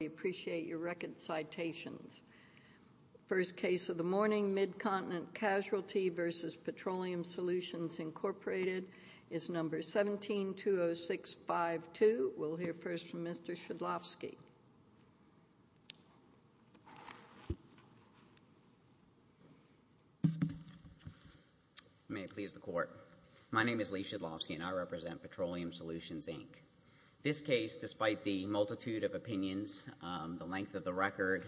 We appreciate your record citations. First case of the morning, Mid-Continent Casualty v. Petroleum Solutions, Incorporated, is number 17-20652. We'll hear first from Mr. Shedlovsky. May it please the court. My name is Lee Shedlovsky and I represent Petroleum Solutions, Inc. This case, despite the multitude of opinions, the length of the record,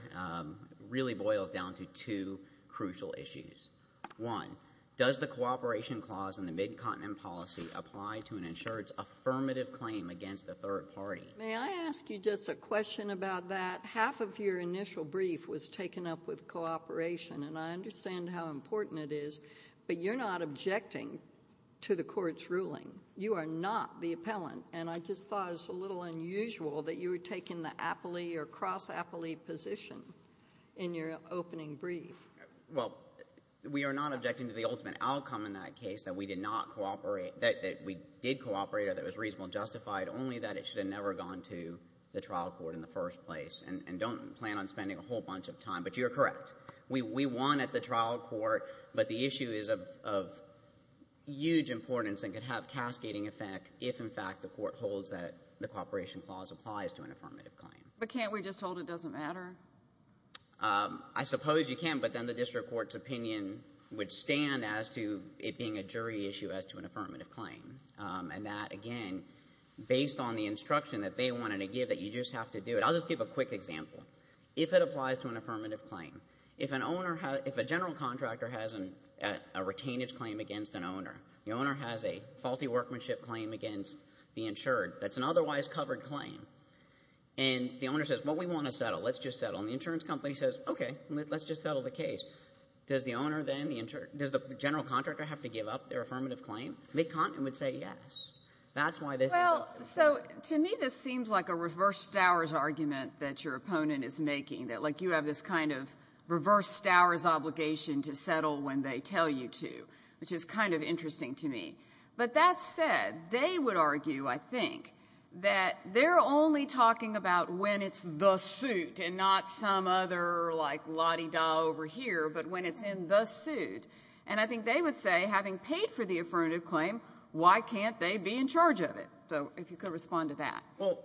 really boils down to two crucial issues. One, does the cooperation clause in the Mid-Continent policy apply to an insured's affirmative claim against a third party? May I ask you just a question about that? Half of your initial brief was taken up with cooperation. And I understand how important it is, but you're not objecting to the court's ruling. You are not the appellant, and I just thought it was a little unusual that you were taking the appellee or cross-appellee position in your opening brief. Well, we are not objecting to the ultimate outcome in that case, that we did not cooperate that we did cooperate or that it was reasonably justified, only that it should have never gone to the trial court in the first place. And don't plan on spending a whole bunch of time, but you're correct. We won at the trial court, but the issue is of huge importance and could have cascading effect if, in fact, the court holds that the cooperation clause applies to an affirmative claim. But can't we just hold it doesn't matter? I suppose you can, but then the district court's opinion would stand as to it being a jury issue as to an affirmative claim. And that, again, based on the instruction that they wanted to give that you just have to do it. I'll just give a quick example. If it applies to an affirmative claim, if a general contractor has a retainage claim against an owner, the owner has a faulty workmanship claim against the insured that's an otherwise covered claim. And the owner says, well, we want to settle. Let's just settle. And the insurance company says, okay, let's just settle the case. Does the general contractor have to give up their affirmative claim? They would say yes. That's why this is the case. So to me, this seems like a reverse Stowers argument that your opponent is making, that, like, you have this kind of reverse Stowers obligation to settle when they tell you to, which is kind of interesting to me. But that said, they would argue, I think, that they're only talking about when it's the suit and not some other, like, la-di-da over here, but when it's in the suit. And I think they would say, having paid for the affirmative claim, why can't they be in charge of it? So if you could respond to that. Well,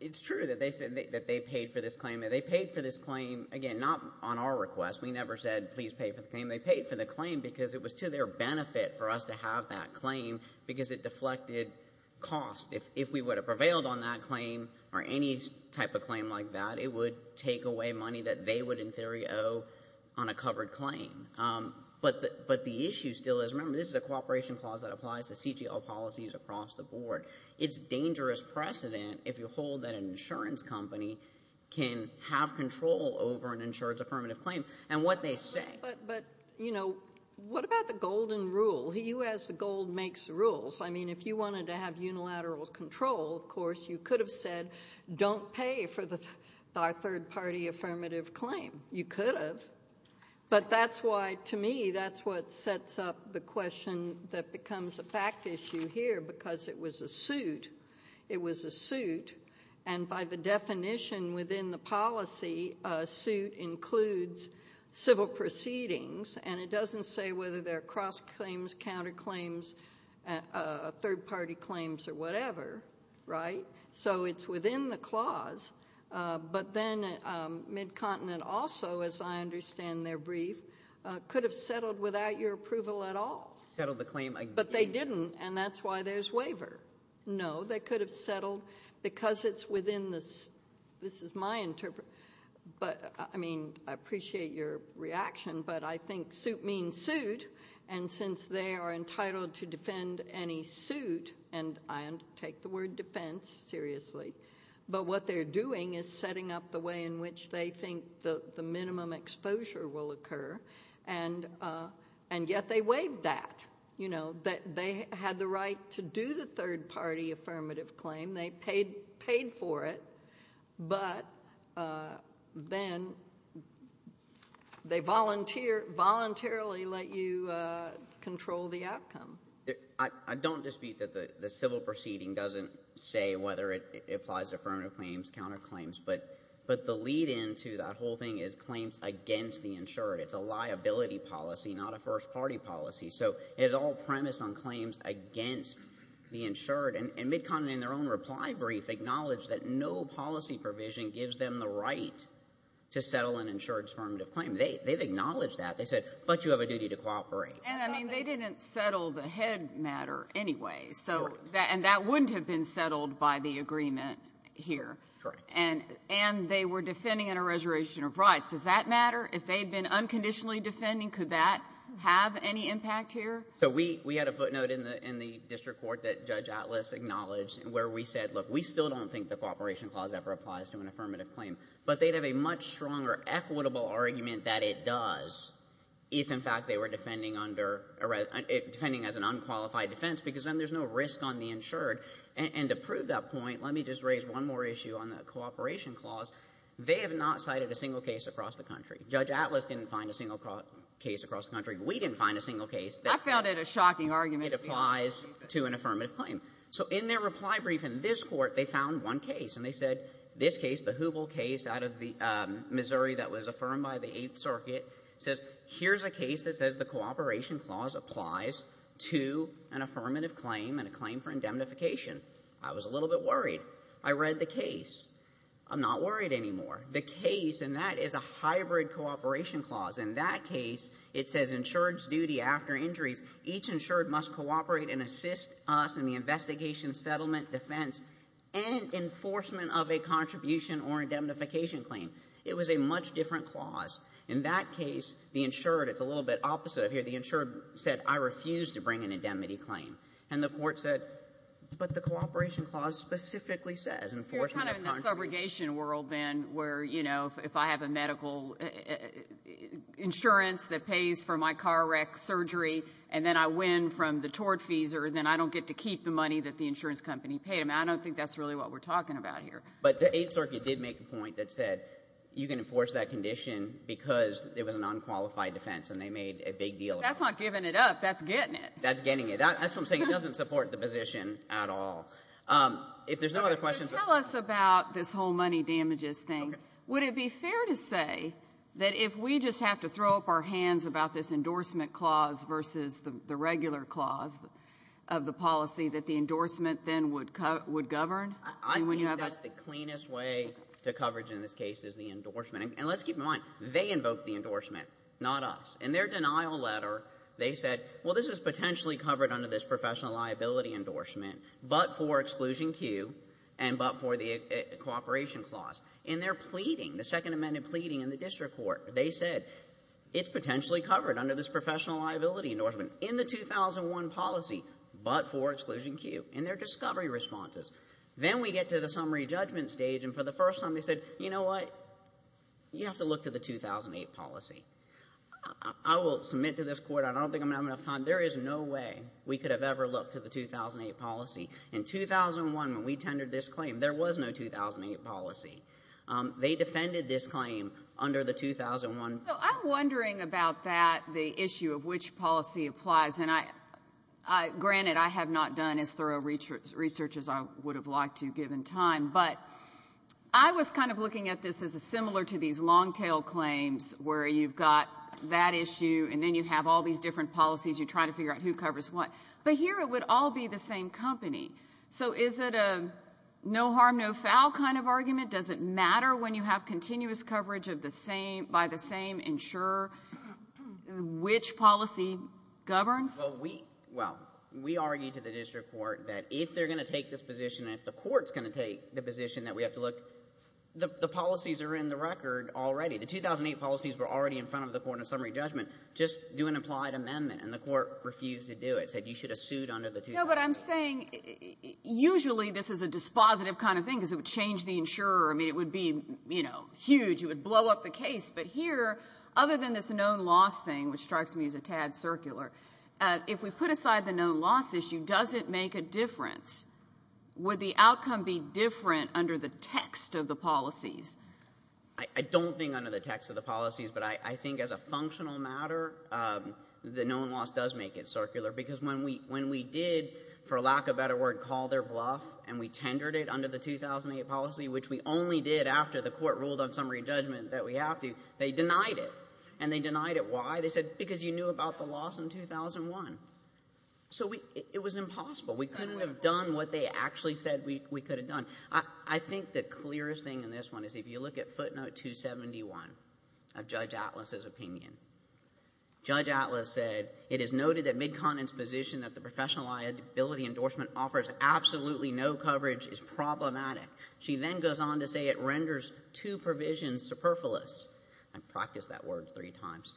it's true that they said that they paid for this claim. They paid for this claim, again, not on our request. We never said, please pay for the claim. They paid for the claim because it was to their benefit for us to have that claim because it deflected cost. If we would have prevailed on that claim or any type of claim like that, it would take away money that they would, in theory, owe on a covered claim. But the issue still is, remember, this is a cooperation clause that applies to insurance. It's dangerous precedent if you hold that an insurance company can have control over an insurance affirmative claim and what they say. But, you know, what about the golden rule? He who has the gold makes the rules. I mean, if you wanted to have unilateral control, of course, you could have said, don't pay for our third-party affirmative claim. You could have. But that's why, to me, that's what sets up the question that becomes a fact issue here because it was a suit. It was a suit. And by the definition within the policy, a suit includes civil proceedings. And it doesn't say whether they're cross-claims, counter-claims, third-party claims or whatever, right? So it's within the clause. But then Mid-Continent also, as I understand their brief, could have settled without your approval at all. Settled the claim. But they didn't. And that's why there's waiver. No, they could have settled because it's within this. This is my interpretation. But, I mean, I appreciate your reaction. But I think suit means suit. And since they are entitled to defend any suit, and I take the word defense seriously, but what they're doing is setting up the way in which they think the minimum exposure will occur. And yet they waived that. They had the right to do the third-party affirmative claim. They paid for it. But then they voluntarily let you control the outcome. I don't dispute that the civil proceeding doesn't say whether it applies to affirmative claims, counter-claims. But the lead-in to that whole thing is claims against the insurer. It's a liability policy, not a first-party policy. So it's all premised on claims against the insured. And MidContinent, in their own reply brief, acknowledged that no policy provision gives them the right to settle an insured affirmative claim. They've acknowledged that. They said, but you have a duty to cooperate. And, I mean, they didn't settle the head matter anyway. Correct. And that wouldn't have been settled by the agreement here. Correct. And they were defending a reservation of rights. Does that matter? If they had been unconditionally defending, could that have any impact here? So we had a footnote in the district court that Judge Atlas acknowledged where we said, look, we still don't think the cooperation clause ever applies to an affirmative claim. But they'd have a much stronger equitable argument that it does if, in fact, they were defending under ‑‑ defending as an unqualified defense because then there's no risk on the insured. And to prove that point, let me just raise one more issue on the cooperation clause. They have not cited a single case across the country. Judge Atlas didn't find a single case across the country. We didn't find a single case. I found it a shocking argument. It applies to an affirmative claim. So in their reply brief in this Court, they found one case. And they said this case, the Hubel case out of Missouri that was affirmed by the Eighth Circuit, says here's a case that says the cooperation clause applies to an affirmative claim and a claim for indemnification. I was a little bit worried. I read the case. I'm not worried anymore. The case, and that is a hybrid cooperation clause. In that case, it says insured's duty after injuries, each insured must cooperate and assist us in the investigation, settlement, defense, and enforcement of a contribution or indemnification claim. It was a much different clause. In that case, the insured, it's a little bit opposite of here, the insured said, I refuse to bring an indemnity claim. And the Court said, but the cooperation clause specifically says enforcement of contributions. It's more of a segregation world then where, you know, if I have a medical insurance that pays for my car wreck surgery, and then I win from the tort fees, or then I don't get to keep the money that the insurance company paid. I mean, I don't think that's really what we're talking about here. But the Eighth Circuit did make a point that said you can enforce that condition because it was an unqualified defense, and they made a big deal of it. That's not giving it up. That's getting it. That's getting it. That's what I'm saying. It doesn't support the position at all. If there's no other questions. So tell us about this whole money damages thing. Okay. Would it be fair to say that if we just have to throw up our hands about this endorsement clause versus the regular clause of the policy, that the endorsement then would govern? I think that's the cleanest way to coverage in this case is the endorsement. And let's keep in mind, they invoked the endorsement, not us. In their denial letter, they said, well, this is potentially covered under this professional liability endorsement. But for exclusion Q and but for the cooperation clause. In their pleading, the Second Amendment pleading in the district court, they said, it's potentially covered under this professional liability endorsement. In the 2001 policy, but for exclusion Q. In their discovery responses. Then we get to the summary judgment stage, and for the first time they said, you know what? You have to look to the 2008 policy. I will submit to this court, I don't think I'm going to have enough time, there is no way we could have ever looked to the 2008 policy. In 2001, when we tendered this claim, there was no 2008 policy. They defended this claim under the 2001. So I'm wondering about that, the issue of which policy applies. And I, granted, I have not done as thorough research as I would have liked to given time. But I was kind of looking at this as similar to these long-tail claims where you've got that issue, and then you have all these different policies. You try to figure out who covers what. But here it would all be the same company. So is it a no harm, no foul kind of argument? Does it matter when you have continuous coverage of the same, by the same insurer, which policy governs? Well, we argue to the district court that if they're going to take this position, if the court's going to take the position that we have to look, the policies are in the record already. The 2008 policies were already in front of the court in summary judgment. Just do an implied amendment. And the court refused to do it, said you should have sued under the 2008. No, but I'm saying usually this is a dispositive kind of thing because it would change the insurer. I mean, it would be, you know, huge. It would blow up the case. But here, other than this known loss thing, which strikes me as a tad circular, if we put aside the known loss issue, does it make a difference? Would the outcome be different under the text of the policies? I don't think under the text of the policies. But I think as a functional matter, the known loss does make it circular. Because when we did, for lack of a better word, call their bluff and we tendered it under the 2008 policy, which we only did after the court ruled on summary judgment that we have to, they denied it. And they denied it. Why? They said because you knew about the loss in 2001. So it was impossible. We couldn't have done what they actually said we could have done. I think the clearest thing in this one is if you look at footnote 271 of Judge Atlas's opinion. Judge Atlas said, it is noted that Midcontin's position that the professional liability endorsement offers absolutely no coverage is problematic. She then goes on to say it renders two provisions superfluous. I've practiced that word three times.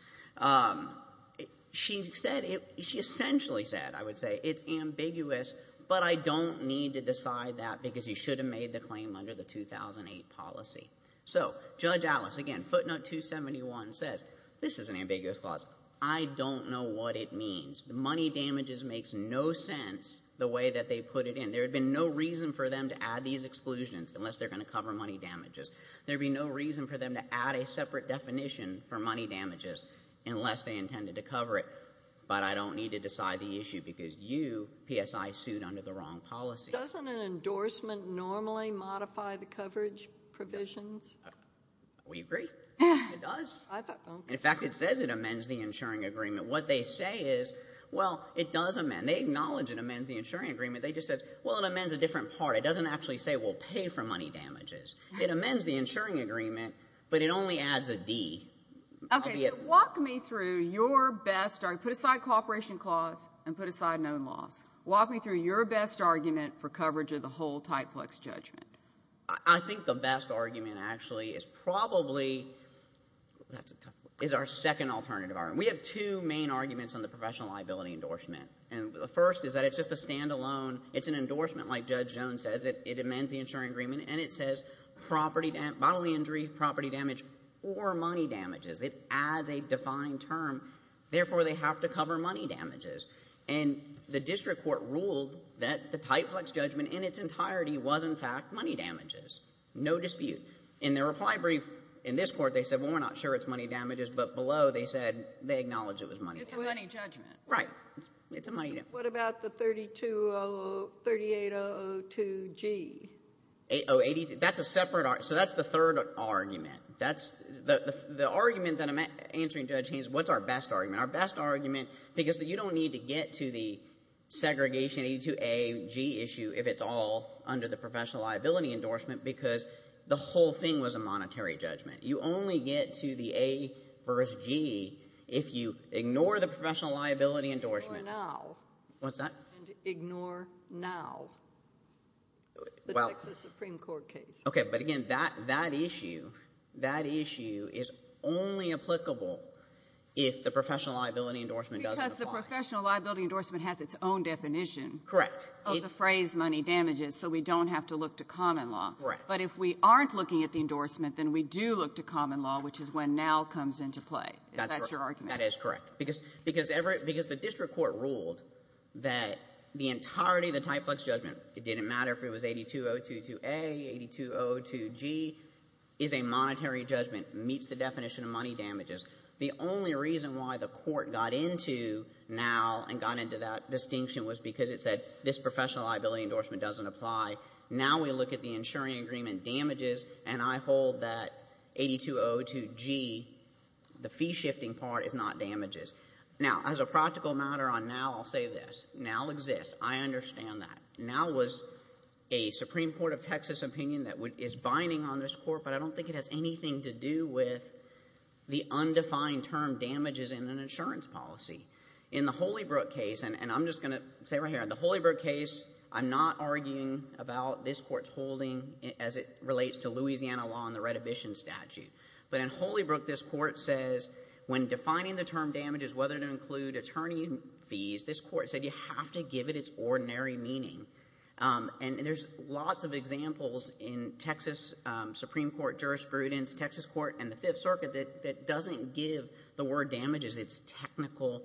She said, she essentially said, I would say, it's ambiguous, but I don't need to decide that because you should have made the claim under the 2008 policy. So Judge Atlas, again, footnote 271 says, this is an ambiguous clause. I don't know what it means. The money damages makes no sense the way that they put it in. There would have been no reason for them to add these exclusions unless they're going to cover money damages. There would be no reason for them to add a separate definition for money damages unless they intended to cover it. But I don't need to decide the issue because you, PSI, sued under the wrong policy. Doesn't an endorsement normally modify the coverage provisions? We agree. It does. In fact, it says it amends the insuring agreement. What they say is, well, it does amend. They acknowledge it amends the insuring agreement. They just say, well, it amends a different part. It doesn't actually say, well, pay for money damages. It amends the insuring agreement, but it only adds a D. Okay, so walk me through your best argument. Put aside cooperation clause and put aside known laws. Walk me through your best argument for coverage of the whole Type Flex judgment. I think the best argument actually is probably is our second alternative argument. We have two main arguments on the professional liability endorsement, and the first is that it's just a standalone. It's an endorsement like Judge Jones says. It amends the insuring agreement, and it says bodily injury, property damage, or money damages. It adds a defined term. Therefore, they have to cover money damages. And the district court ruled that the Type Flex judgment in its entirety was, in fact, money damages. No dispute. In their reply brief in this court, they said, well, we're not sure it's money damages, but below they said they acknowledge it was money damages. It's a money judgment. Right. It's a money judgment. What about the 3802G? That's a separate argument. So that's the third argument. The argument that I'm answering, Judge Haynes, what's our best argument? Our best argument, because you don't need to get to the segregation 802AG issue if it's all under the professional liability endorsement because the whole thing was a monetary judgment. You only get to the A versus G if you ignore the professional liability endorsement. Ignore now. What's that? Ignore now. The Texas Supreme Court case. Okay, but again, that issue is only applicable if the professional liability endorsement doesn't apply. Because the professional liability endorsement has its own definition. Correct. Of the phrase money damages, so we don't have to look to common law. Correct. But if we aren't looking at the endorsement, then we do look to common law, which is when now comes into play. Is that your argument? That is correct. Because the district court ruled that the entirety of the Type Flex judgment, it didn't matter if it was 82022A, 8202G, is a monetary judgment, meets the definition of money damages. The only reason why the court got into now and got into that distinction was because it said this professional liability endorsement doesn't apply. Now we look at the insuring agreement damages, and I hold that 8202G, the fee-shifting part, is not damages. Now, as a practical matter on now, I'll say this. Now exists. I understand that. Now was a Supreme Court of Texas opinion that is binding on this court, but I don't think it has anything to do with the undefined term damages in an insurance policy. In the Holybrook case, and I'm just going to say right here, in the Holybrook case, I'm not arguing about this court's holding as it relates to Louisiana law and the reddition statute. But in Holybrook, this court says when defining the term damages, whether to include attorney fees, this court said you have to give it its ordinary meaning. And there's lots of examples in Texas Supreme Court jurisprudence, Texas court, and the Fifth Circuit that doesn't give the word damages its technical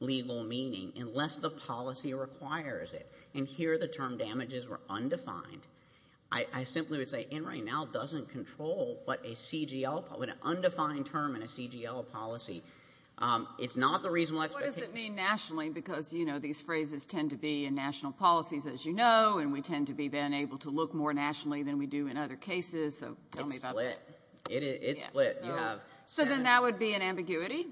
legal meaning unless the policy requires it. And here the term damages were undefined. I simply would say NRA now doesn't control what a CGL, what an undefined term in a CGL policy. It's not the reasonable expectation. What does it mean nationally? Because these phrases tend to be in national policies, as you know, and we tend to be then able to look more nationally than we do in other cases. So tell me about that. It's split. It's split. So then that would be an ambiguity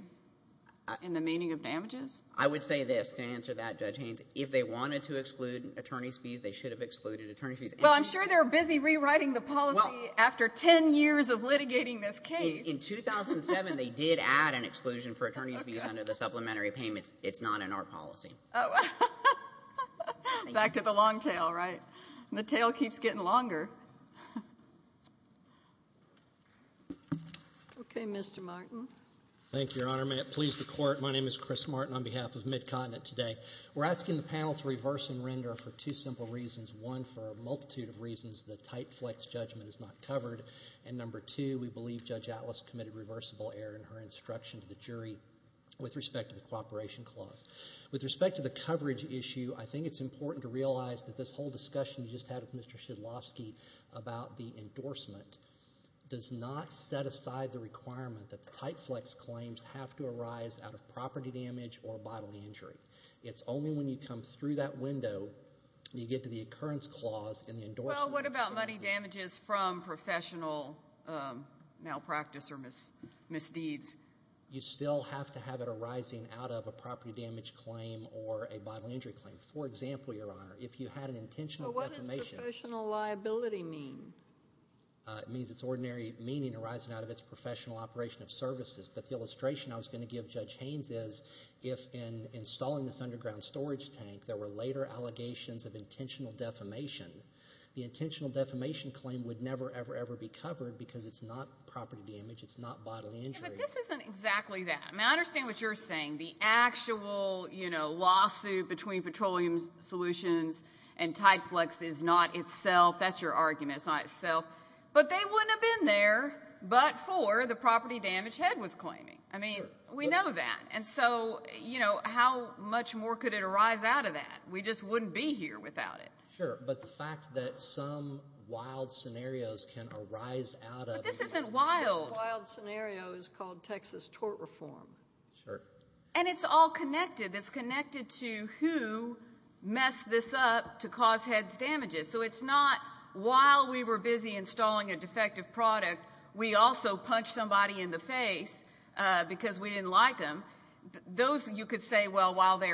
in the meaning of damages? I would say this to answer that, Judge Haynes. If they wanted to exclude attorney's fees, they should have excluded attorney's fees. Well, I'm sure they're busy rewriting the policy after 10 years of litigating this case. In 2007, they did add an exclusion for attorney's fees under the supplementary payments. It's not in our policy. Oh. Back to the long tail, right? The tail keeps getting longer. Okay. Mr. Martin. Thank you, Your Honor. May it please the Court. My name is Chris Martin on behalf of MidContinent today. We're asking the panel to reverse and render for two simple reasons. One, for a multitude of reasons, the type flex judgment is not covered. And number two, we believe Judge Atlas committed reversible error in her instruction to the jury with respect to the cooperation clause. With respect to the coverage issue, I think it's important to realize that this whole discussion you just had with Mr. Shedlovsky about the endorsement does not set aside the requirement that the type flex claims have to arise out of property damage or bodily injury. It's only when you come through that window, you get to the occurrence clause and the endorsement. Well, what about money damages from professional malpractice or misdeeds? You still have to have it arising out of a property damage claim or a bodily injury claim. For example, Your Honor, if you had an intentional defamation. Well, what does professional liability mean? It means it's ordinary meaning arising out of its professional operation of services. But the illustration I was going to give Judge Haynes is if in installing this underground storage tank there were later allegations of intentional defamation, the intentional defamation claim would never, ever, ever be covered because it's not property damage. It's not bodily injury. But this isn't exactly that. Now, I understand what you're saying. The actual lawsuit between Petroleum Solutions and type flex is not itself. That's your argument. It's not itself. But they wouldn't have been there but for the property damage. That's what Judge Head was claiming. I mean, we know that. And so, you know, how much more could it arise out of that? We just wouldn't be here without it. Sure. But the fact that some wild scenarios can arise out of it. But this isn't wild. The wild scenario is called Texas tort reform. Sure. And it's all connected. It's connected to who messed this up to cause heads damages. So it's not while we were busy installing a defective product we also punched somebody in the face because we didn't like them. Those you could say, well, while they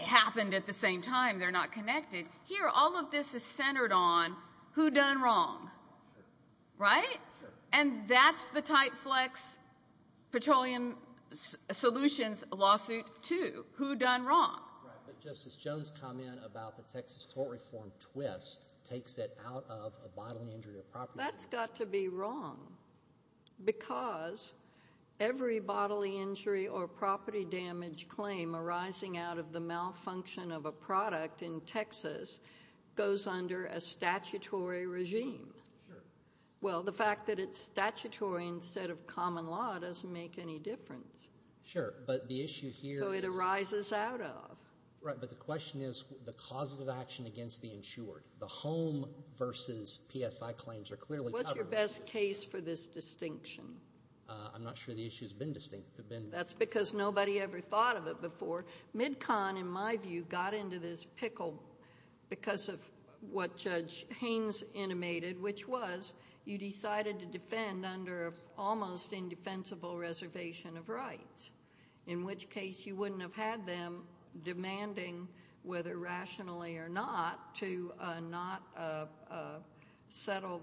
happened at the same time, they're not connected. Here, all of this is centered on who done wrong. Sure. Right? Sure. And that's the type flex Petroleum Solutions lawsuit too. Who done wrong. Right. But Justice Jones' comment about the Texas tort reform twist takes it out of a bodily injury of property. That's got to be wrong. Because every bodily injury or property damage claim arising out of the malfunction of a product in Texas goes under a statutory regime. Sure. Well, the fact that it's statutory instead of common law doesn't make any difference. Sure. But the issue here is. So it arises out of. Right. But the question is the causes of action against the insured. The home versus PSI claims are clearly. What's your best case for this distinction? I'm not sure the issue has been distinct. That's because nobody ever thought of it before. Midcon, in my view, got into this pickle because of what Judge Haynes animated, which was you decided to defend under an almost indefensible reservation of rights, in which case you wouldn't have had them demanding, whether rationally or not, to not settle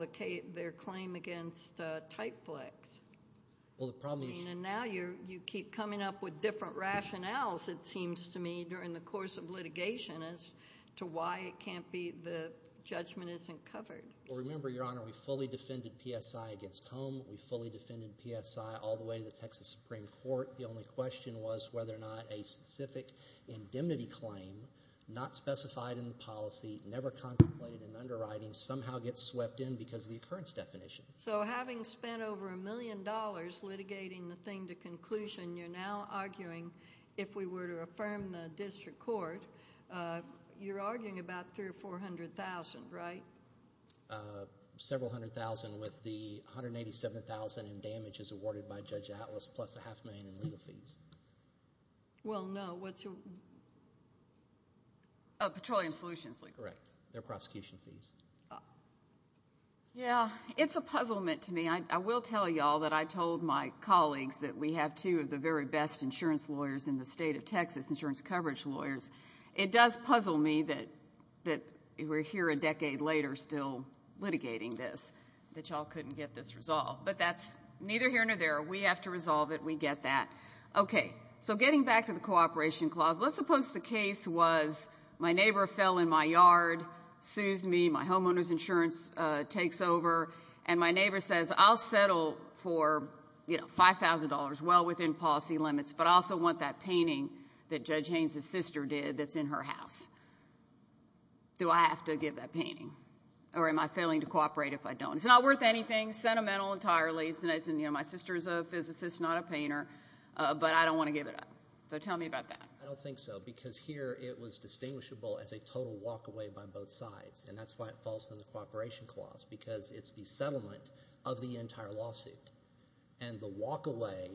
their claim against typeflex. Well, the problem is. And now you keep coming up with different rationales, it seems to me, during the course of litigation as to why it can't be the judgment isn't covered. Well, remember, Your Honor, we fully defended PSI against home. We fully defended PSI all the way to the Texas Supreme Court. The only question was whether or not a specific indemnity claim, not specified in the policy, never contemplated in underwriting, somehow gets swept in because of the occurrence definition. So having spent over a million dollars litigating the thing to conclusion, you're now arguing if we were to affirm the district court, you're arguing about $300,000 or $400,000, right? Several hundred thousand with the $187,000 in damages awarded by Judge Atlas plus a half million in legal fees. Well, no. Petroleum Solutions Legal. Correct. Their prosecution fees. Yeah. It's a puzzlement to me. I will tell you all that I told my colleagues that we have two of the very best insurance lawyers in the state of Texas, insurance coverage lawyers. It does puzzle me that we're here a decade later still litigating this, that y'all couldn't get this resolved. But that's neither here nor there. We have to resolve it. We get that. Okay. So getting back to the cooperation clause, let's suppose the case was my neighbor fell in my yard, sues me, my homeowner's insurance takes over, and my neighbor says, I'll settle for $5,000, well within policy limits, but I also want that painting that Judge Haynes' sister did that's in her house. Do I have to give that painting? Or am I failing to cooperate if I don't? It's not worth anything, sentimental entirely. My sister is a physicist, not a painter, but I don't want to give it up. So tell me about that. I don't think so because here it was distinguishable as a total walk away by both sides, and that's why it falls under the cooperation clause because it's the settlement of the entire lawsuit. And the walk away,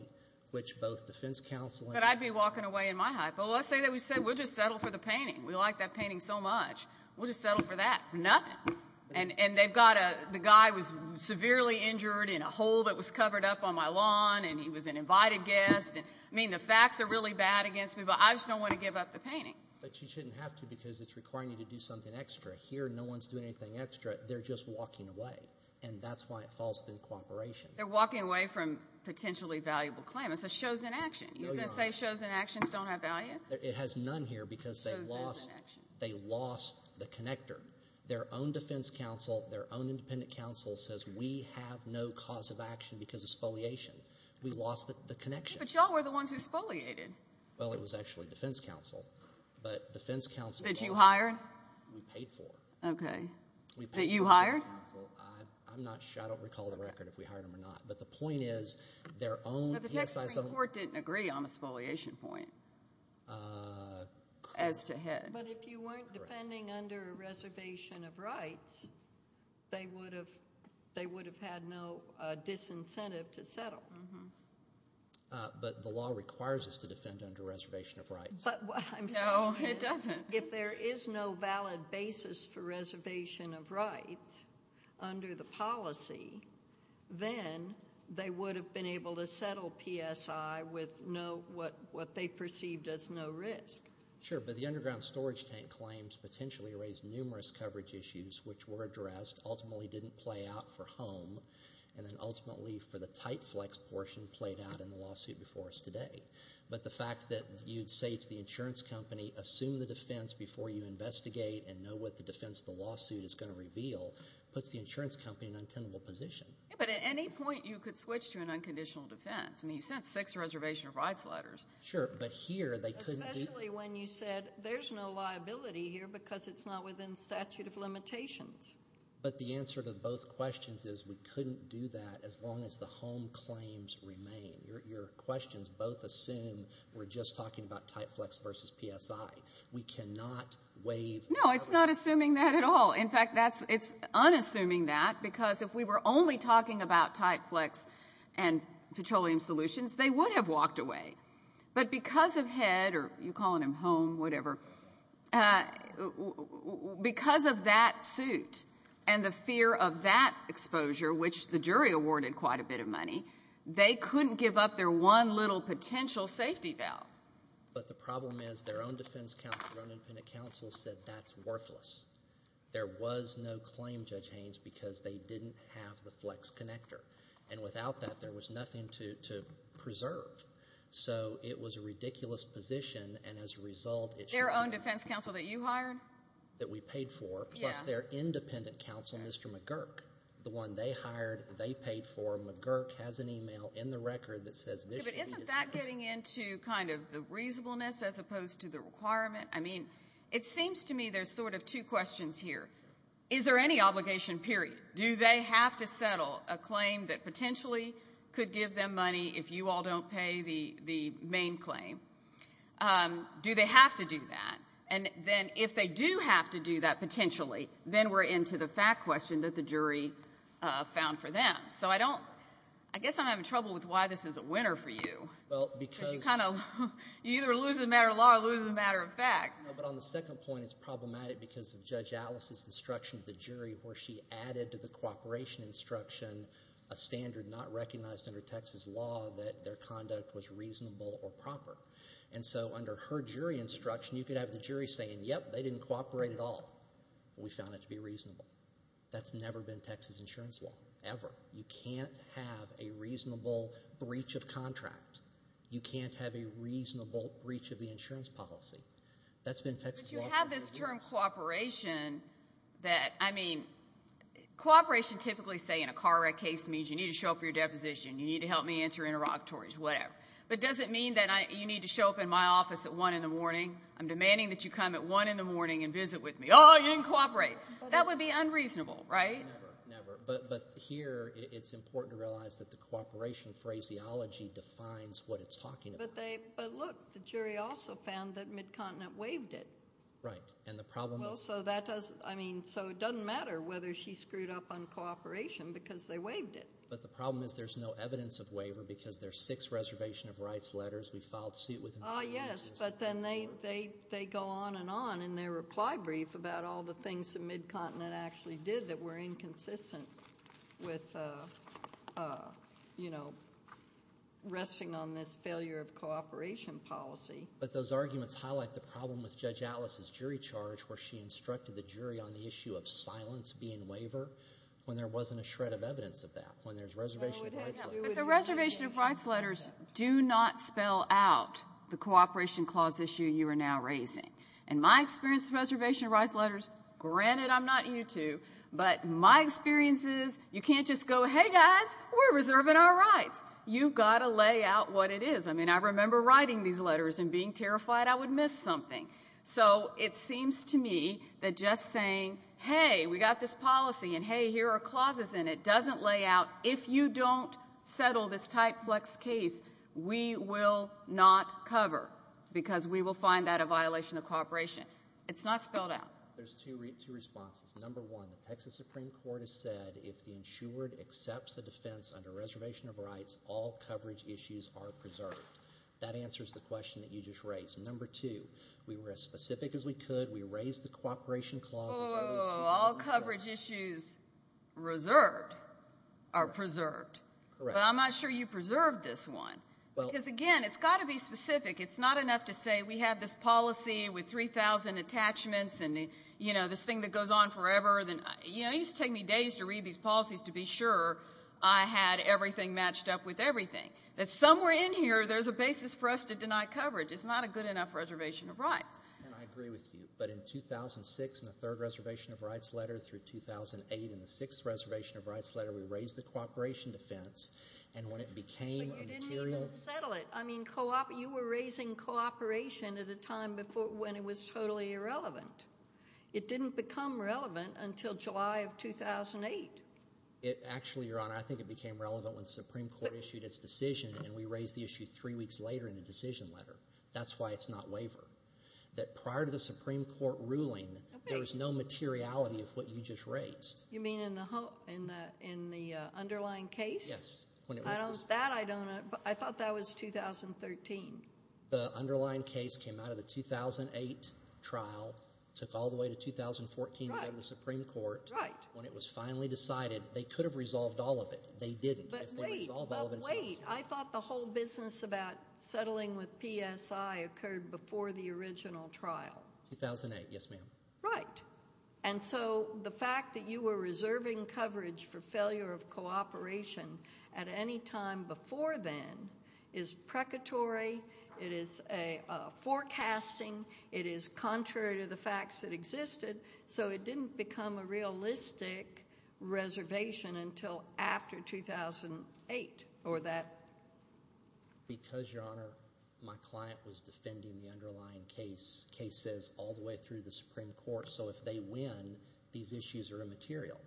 which both defense counsel and— But I'd be walking away in my hypo. Let's say that we said we'll just settle for the painting. We like that painting so much. We'll just settle for that. Nothing. And they've got a—the guy was severely injured in a hole that was covered up on my lawn, and he was an invited guest. I mean the facts are really bad against me, but I just don't want to give up the painting. But you shouldn't have to because it's requiring you to do something extra. Here no one's doing anything extra. They're just walking away, and that's why it falls within cooperation. They're walking away from potentially valuable claim. It's a chosen action. You're going to say chosen actions don't have value? It has none here because they lost the connector. Their own defense counsel, their own independent counsel says we have no cause of action because of spoliation. We lost the connection. But you all were the ones who spoliated. Well, it was actually defense counsel, but defense counsel— That you hired? We paid for. Okay. That you hired? I'm not sure. I don't recall the record if we hired them or not. But the point is their own— But the Texas Supreme Court didn't agree on the spoliation point as to head. But if you weren't defending under a reservation of rights, they would have had no disincentive to settle. But the law requires us to defend under a reservation of rights. But what I'm saying is— No, it doesn't. If there is no valid basis for reservation of rights under the policy, then they would have been able to settle PSI with what they perceived as no risk. Sure, but the underground storage tank claims potentially raised numerous coverage issues which were addressed, ultimately didn't play out for home, and then ultimately for the tight flex portion played out in the lawsuit before us today. But the fact that you'd say to the insurance company, assume the defense before you investigate and know what the defense of the lawsuit is going to reveal, puts the insurance company in an untenable position. Yeah, but at any point you could switch to an unconditional defense. I mean you sent six reservation of rights letters. Sure, but here they couldn't— Especially when you said there's no liability here because it's not within statute of limitations. But the answer to both questions is we couldn't do that as long as the home claims remain. Your questions both assume we're just talking about tight flex versus PSI. We cannot waive— No, it's not assuming that at all. In fact, it's unassuming that because if we were only talking about tight flex and petroleum solutions, they would have walked away. But because of HED, or you're calling them home, whatever, because of that suit and the fear of that exposure, which the jury awarded quite a bit of money, they couldn't give up their one little potential safety valve. But the problem is their own defense counsel, their own independent counsel said that's worthless. There was no claim, Judge Haynes, because they didn't have the flex connector. And without that, there was nothing to preserve. So it was a ridiculous position, and as a result— Their own defense counsel that you hired? That we paid for, plus their independent counsel, Mr. McGurk. The one they hired, they paid for. McGurk has an email in the record that says this should be— But isn't that getting into kind of the reasonableness as opposed to the requirement? I mean, it seems to me there's sort of two questions here. Is there any obligation, period? Do they have to settle a claim that potentially could give them money if you all don't pay the main claim? Do they have to do that? And then if they do have to do that potentially, then we're into the fact question that the jury found for them. So I don't—I guess I'm having trouble with why this is a winner for you. Well, because— Because you kind of—you either lose the matter of law or lose the matter of fact. No, but on the second point, it's problematic because of Judge Alice's instruction to the jury where she added to the cooperation instruction a standard not recognized under Texas law that their conduct was reasonable or proper. And so under her jury instruction, you could have the jury saying, yep, they didn't cooperate at all, but we found it to be reasonable. That's never been Texas insurance law, ever. You can't have a reasonable breach of contract. You can't have a reasonable breach of the insurance policy. That's been Texas law— But you have this term cooperation that—I mean, cooperation typically, say, in a car wreck case, means you need to show up for your deposition, you need to help me enter interlocutories, whatever. But does it mean that you need to show up in my office at 1 in the morning? I'm demanding that you come at 1 in the morning and visit with me. Oh, you didn't cooperate. That would be unreasonable, right? Never, never. But here it's important to realize that the cooperation phraseology defines what it's talking about. But look, the jury also found that Mid-Continent waived it. Right, and the problem is— Well, so that doesn't—I mean, so it doesn't matter whether she screwed up on cooperation because they waived it. But the problem is there's no evidence of waiver because there are six reservation of rights letters we filed suit with— Yes, but then they go on and on in their reply brief about all the things that Mid-Continent actually did that were inconsistent with, you know, resting on this failure of cooperation policy. But those arguments highlight the problem with Judge Atlas's jury charge where she instructed the jury on the issue of silence being waiver when there wasn't a shred of evidence of that, when there's reservation of rights letters. But the reservation of rights letters do not spell out the cooperation clause issue you are now raising. In my experience with reservation of rights letters, granted I'm not U2, but my experience is you can't just go, hey, guys, we're reserving our rights. You've got to lay out what it is. I mean, I remember writing these letters and being terrified I would miss something. So it seems to me that just saying, hey, we've got this policy and, hey, here are clauses in it, doesn't lay out if you don't settle this type flex case, we will not cover because we will find that a violation of cooperation. It's not spelled out. There's two responses. Number one, the Texas Supreme Court has said if the insured accepts a defense under reservation of rights, all coverage issues are preserved. That answers the question that you just raised. Number two, we were as specific as we could. We raised the cooperation clause. Whoa, whoa, whoa. All coverage issues reserved are preserved. Correct. But I'm not sure you preserved this one because, again, it's got to be specific. It's not enough to say we have this policy with 3,000 attachments and, you know, this thing that goes on forever. You know, it used to take me days to read these policies to be sure I had everything matched up with everything. Somewhere in here there's a basis for us to deny coverage. It's not a good enough reservation of rights. And I agree with you. But in 2006 in the third reservation of rights letter through 2008 in the sixth reservation of rights letter, we raised the cooperation defense, and when it became a material – But you didn't even settle it. I mean, you were raising cooperation at a time when it was totally irrelevant. It didn't become relevant until July of 2008. Actually, Your Honor, I think it became relevant when the Supreme Court issued its decision, and we raised the issue three weeks later in the decision letter. That's why it's not waiver. That prior to the Supreme Court ruling, there was no materiality of what you just raised. You mean in the underlying case? Yes. That I don't know. I thought that was 2013. The underlying case came out of the 2008 trial, took all the way to 2014 and went to the Supreme Court. Right. When it was finally decided they could have resolved all of it. They didn't. But wait. I thought the whole business about settling with PSI occurred before the original trial. 2008, yes, ma'am. Right. And so the fact that you were reserving coverage for failure of cooperation at any time before then is precatory. It is a forecasting. It is contrary to the facts that existed. So it didn't become a realistic reservation until after 2008 or that. Because, Your Honor, my client was defending the underlying cases all the way through the Supreme Court. So if they win, these issues are immaterial.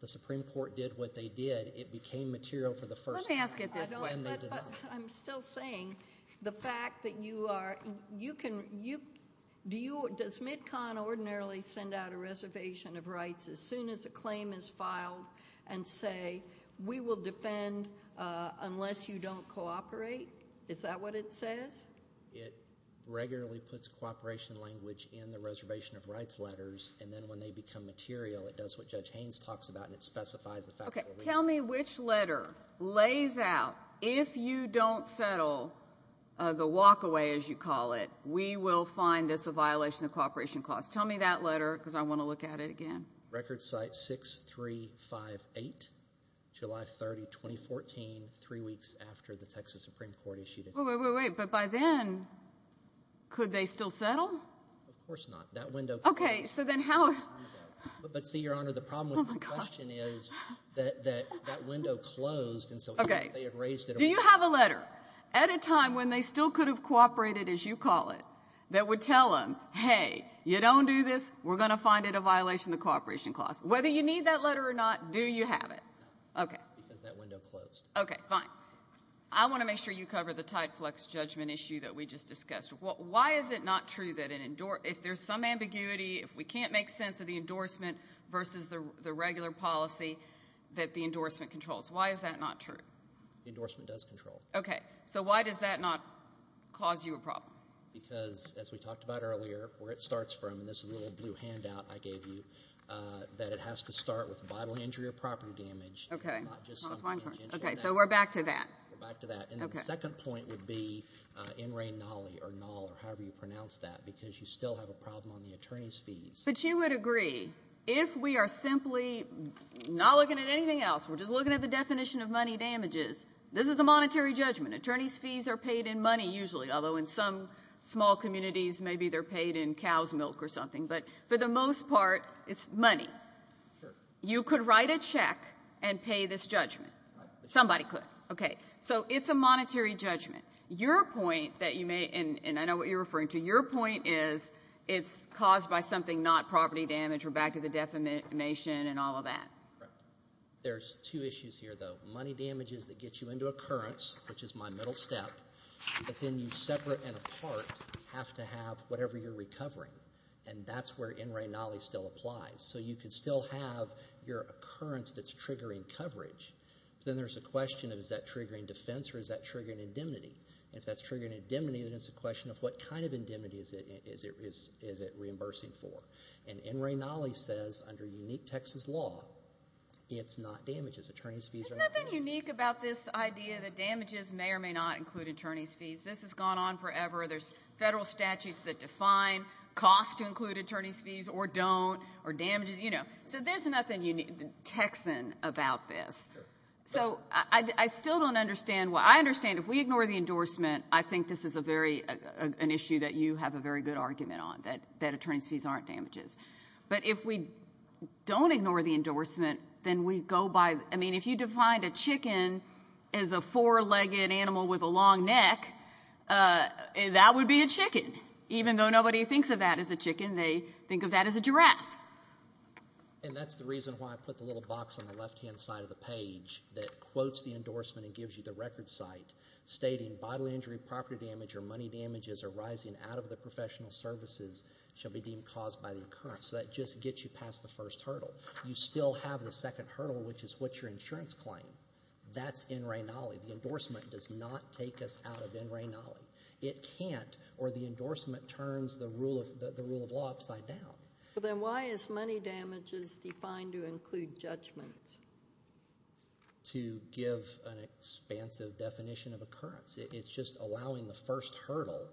The Supreme Court did what they did. It became material for the first time. Let me ask it this way. I'm still saying the fact that you are ‑‑ does MidCon ordinarily send out a reservation of rights as soon as a claim is filed and say we will defend unless you don't cooperate? Is that what it says? It regularly puts cooperation language in the reservation of rights letters, and then when they become material it does what Judge Haynes talks about and it specifies the facts. Tell me which letter lays out if you don't settle the walkaway, as you call it, we will find this a violation of cooperation clause. Tell me that letter because I want to look at it again. Record site 6358, July 30, 2014, three weeks after the Texas Supreme Court issued it. Wait, wait, wait. But by then could they still settle? Of course not. That window. Okay. So then how ‑‑ But see, Your Honor, the problem with the question is that that window closed and so they erased it. Okay. Do you have a letter at a time when they still could have cooperated, as you call it, that would tell them, hey, you don't do this, we're going to find it a violation of the cooperation clause? Whether you need that letter or not, do you have it? No. Okay. Because that window closed. Okay, fine. I want to make sure you cover the Tideflux judgment issue that we just discussed. Why is it not true that if there's some ambiguity, if we can't make sense of the endorsement versus the regular policy, that the endorsement controls? Why is that not true? The endorsement does control. Okay. So why does that not cause you a problem? Because, as we talked about earlier, where it starts from, and this little blue handout I gave you, that it has to start with a bodily injury or property damage. Okay. Okay, so we're back to that. We're back to that. Okay. The second point would be in re nulli, or null, or however you pronounce that, because you still have a problem on the attorney's fees. But you would agree, if we are simply not looking at anything else, we're just looking at the definition of money damages, this is a monetary judgment. Attorney's fees are paid in money usually, although in some small communities, maybe they're paid in cow's milk or something. But for the most part, it's money. Sure. You could write a check and pay this judgment. Right. Somebody could. Okay. So it's a monetary judgment. Your point that you may, and I know what you're referring to, your point is it's caused by something not property damage. We're back to the defamation and all of that. Correct. There's two issues here, though. Money damages that get you into a occurrence, which is my middle step, but then you separate and apart have to have whatever you're recovering. And that's where in re nulli still applies. So you could still have your occurrence that's triggering coverage. Then there's a question of is that triggering defense or is that triggering indemnity? And if that's triggering indemnity, then it's a question of what kind of indemnity is it reimbursing for. And in re nulli says under unique Texas law, it's not damages. Attorney's fees are not damages. There's nothing unique about this idea that damages may or may not include attorney's fees. This has gone on forever. There's federal statutes that define costs to include attorney's fees or don't, or damages, you know. So there's nothing Texan about this. So I still don't understand. I understand if we ignore the endorsement, I think this is an issue that you have a very good argument on, that attorney's fees aren't damages. But if we don't ignore the endorsement, then we go by the ‑‑ I mean, if you defined a chicken as a four‑legged animal with a long neck, that would be a chicken. Even though nobody thinks of that as a chicken, they think of that as a giraffe. And that's the reason why I put the little box on the left‑hand side of the page that quotes the endorsement and gives you the record site, stating bodily injury, property damage, or money damages arising out of the professional services shall be deemed caused by the occurrence. So that just gets you past the first hurdle. You still have the second hurdle, which is what's your insurance claim. That's in re nulli. The endorsement does not take us out of in re nulli. It can't, or the endorsement turns the rule of law upside down. Then why is money damages defined to include judgments? To give an expansive definition of occurrence. It's just allowing the first hurdle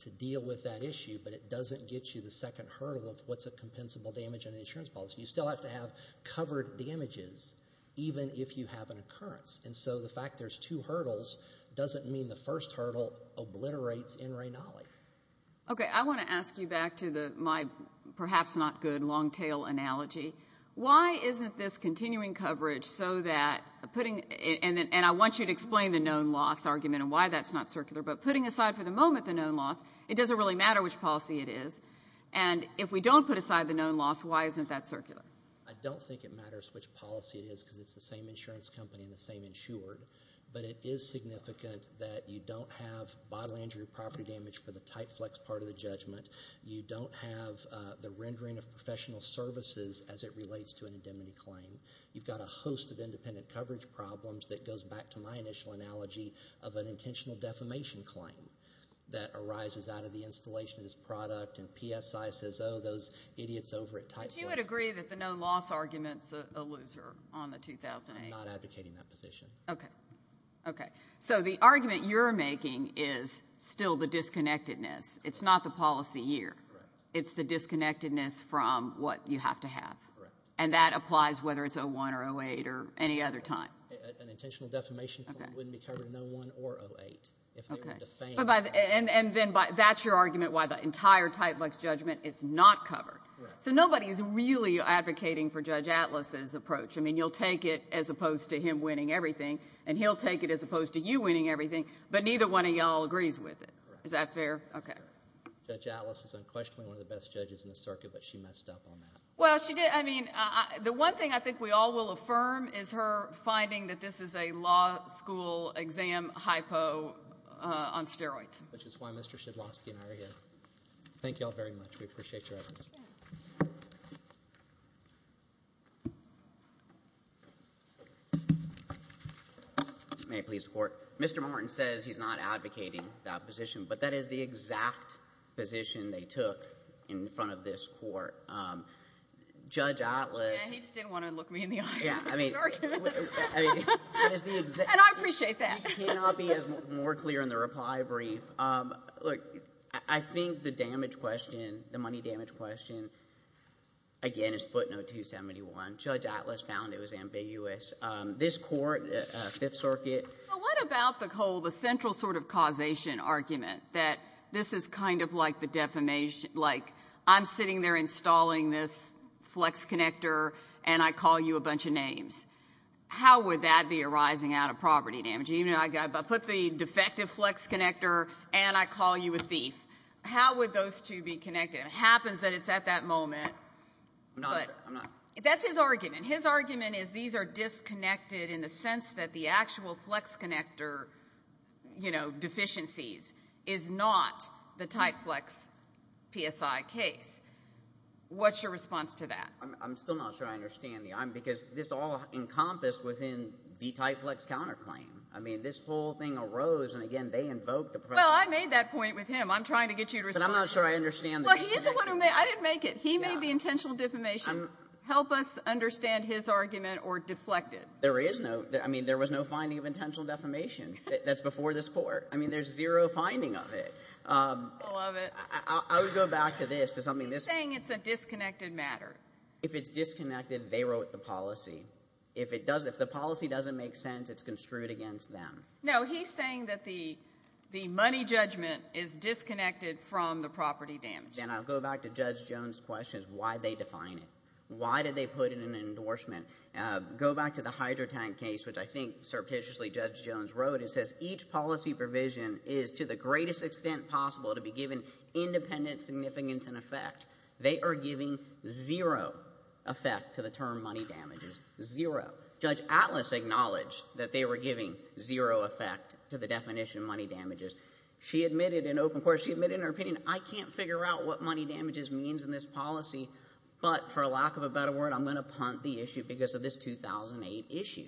to deal with that issue, but it doesn't get you the second hurdle of what's a compensable damage in an insurance policy. You still have to have covered damages, even if you have an occurrence. And so the fact there's two hurdles doesn't mean the first hurdle obliterates in re nulli. Okay, I want to ask you back to my perhaps not good long tail analogy. Why isn't this continuing coverage so that putting ‑‑ and I want you to explain the known loss argument and why that's not circular, but putting aside for the moment the known loss, it doesn't really matter which policy it is, and if we don't put aside the known loss, why isn't that circular? I don't think it matters which policy it is because it's the same insurance company and the same insured, but it is significant that you don't have bodily injury property damage for the type flex part of the judgment. You don't have the rendering of professional services as it relates to an indemnity claim. You've got a host of independent coverage problems that goes back to my initial analogy of an intentional defamation claim that arises out of the installation of this product and PSI says, oh, those idiots over at type flex. But you would agree that the known loss argument is a loser on the 2008? I'm not advocating that position. Okay. Okay. So the argument you're making is still the disconnectedness. It's not the policy year. It's the disconnectedness from what you have to have. Correct. And that applies whether it's 01 or 08 or any other time. An intentional defamation claim wouldn't be covered in 01 or 08 if they were defamed. And then that's your argument why the entire type flex judgment is not covered. Correct. So nobody is really advocating for Judge Atlas's approach. I mean, you'll take it as opposed to him winning everything, and he'll take it as opposed to you winning everything, but neither one of you all agrees with it. Is that fair? Okay. Judge Atlas is unquestionably one of the best judges in the circuit, but she messed up on that. Well, she did. I mean, the one thing I think we all will affirm is her finding that this is a law school exam hypo on steroids. Which is why Mr. Shedlovsky and I are here. Thank you all very much. We appreciate your evidence. Thank you very much. May I please report? Mr. Martin says he's not advocating that position, but that is the exact position they took in front of this court. Judge Atlas. Yeah, he just didn't want to look me in the eye and make an argument. And I appreciate that. It cannot be more clear in the reply brief. Look, I think the damage question, the money damage question, again, is footnote 271. Judge Atlas found it was ambiguous. This court, Fifth Circuit. Well, what about the whole, the central sort of causation argument that this is kind of like the defamation, like I'm sitting there installing this flex connector, and I call you a bunch of names. How would that be arising out of property damage? I put the defective flex connector, and I call you a thief. How would those two be connected? It happens that it's at that moment. I'm not sure. That's his argument. His argument is these are disconnected in the sense that the actual flex connector, you know, deficiencies is not the Titeflex PSI case. What's your response to that? I'm still not sure I understand you. Because this all encompassed within the Titeflex counterclaim. I mean, this whole thing arose, and, again, they invoked the professional. Well, I made that point with him. I'm trying to get you to respond. But I'm not sure I understand this. Well, he's the one who made it. I didn't make it. He made the intentional defamation. Help us understand his argument or deflect it. There is no. I mean, there was no finding of intentional defamation. That's before this Court. I mean, there's zero finding of it. I love it. I would go back to this. He's saying it's a disconnected matter. If it's disconnected, they wrote the policy. If the policy doesn't make sense, it's construed against them. No, he's saying that the money judgment is disconnected from the property damage. And I'll go back to Judge Jones' question as to why they define it. Why did they put it in an endorsement? Go back to the hydrotank case, which I think, surreptitiously, Judge Jones wrote. It says each policy provision is to the greatest extent possible to be given independent significance and effect. They are giving zero effect to the term money damages. Zero. Judge Atlas acknowledged that they were giving zero effect to the definition of money damages. She admitted in open court. She admitted in her opinion, I can't figure out what money damages means in this policy. But for lack of a better word, I'm going to punt the issue because of this 2008 issue.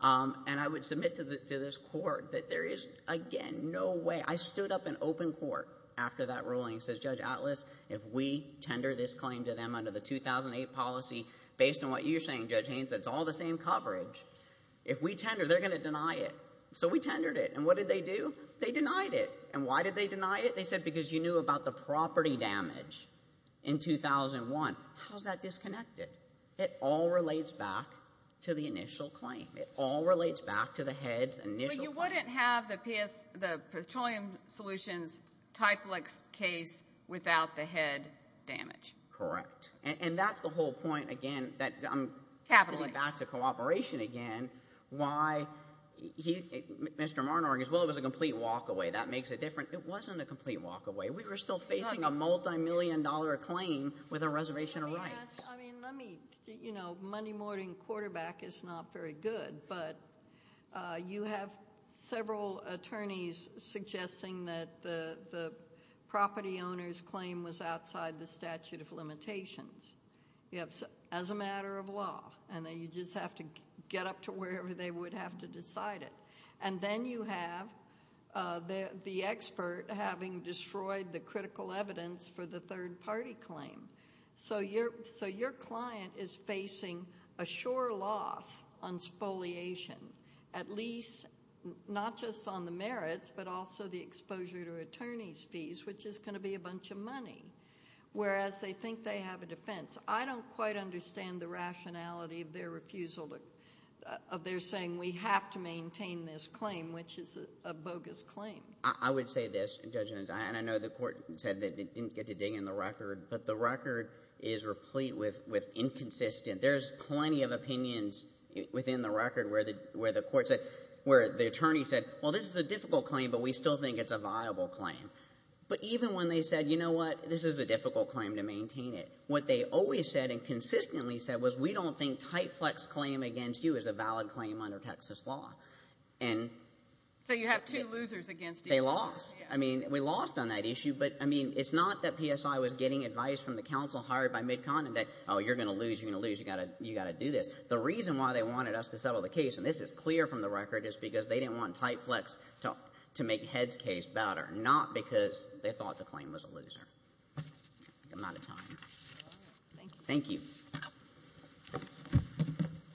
And I would submit to this Court that there is, again, no way. I stood up in open court after that ruling and said, Judge Atlas, if we tender this claim to them under the 2008 policy, based on what you're saying, Judge Haynes, that it's all the same coverage, if we tender, they're going to deny it. So we tendered it. And what did they do? They denied it. And why did they deny it? They said because you knew about the property damage in 2001. How is that disconnected? It all relates back to the initial claim. It all relates back to the head's initial claim. So you wouldn't have the petroleum solutions Tiflex case without the head damage. Correct. And that's the whole point, again, that I'm getting back to cooperation again, why Mr. Marnor argues, well, it was a complete walkaway. That makes a difference. It wasn't a complete walkaway. We were still facing a multimillion-dollar claim with a reservation of rights. I mean, let me, you know, money-mortgaging quarterback is not very good, but you have several attorneys suggesting that the property owner's claim was outside the statute of limitations as a matter of law, and that you just have to get up to wherever they would have to decide it. And then you have the expert having destroyed the critical evidence for the third-party claim. So your client is facing a sure loss on spoliation, at least not just on the merits, but also the exposure to attorney's fees, which is going to be a bunch of money, whereas they think they have a defense. I don't quite understand the rationality of their refusal, of their saying we have to maintain this claim, which is a bogus claim. I would say this, and I know the court said they didn't get to dig in the record, but the record is replete with inconsistent. There's plenty of opinions within the record where the court said, where the attorney said, well, this is a difficult claim, but we still think it's a viable claim. But even when they said, you know what, this is a difficult claim to maintain it, what they always said and consistently said was we don't think Titeflex's claim against you is a valid claim under Texas law. So you have two losers against you. They lost. We lost on that issue, but it's not that PSI was getting advice from the counsel hired by MidCon and that, oh, you're going to lose, you're going to lose, you've got to do this. The reason why they wanted us to settle the case, and this is clear from the record, is because they didn't want Titeflex to make Head's case better, not because they thought the claim was a loser. I'm out of time. Thank you. Thank you.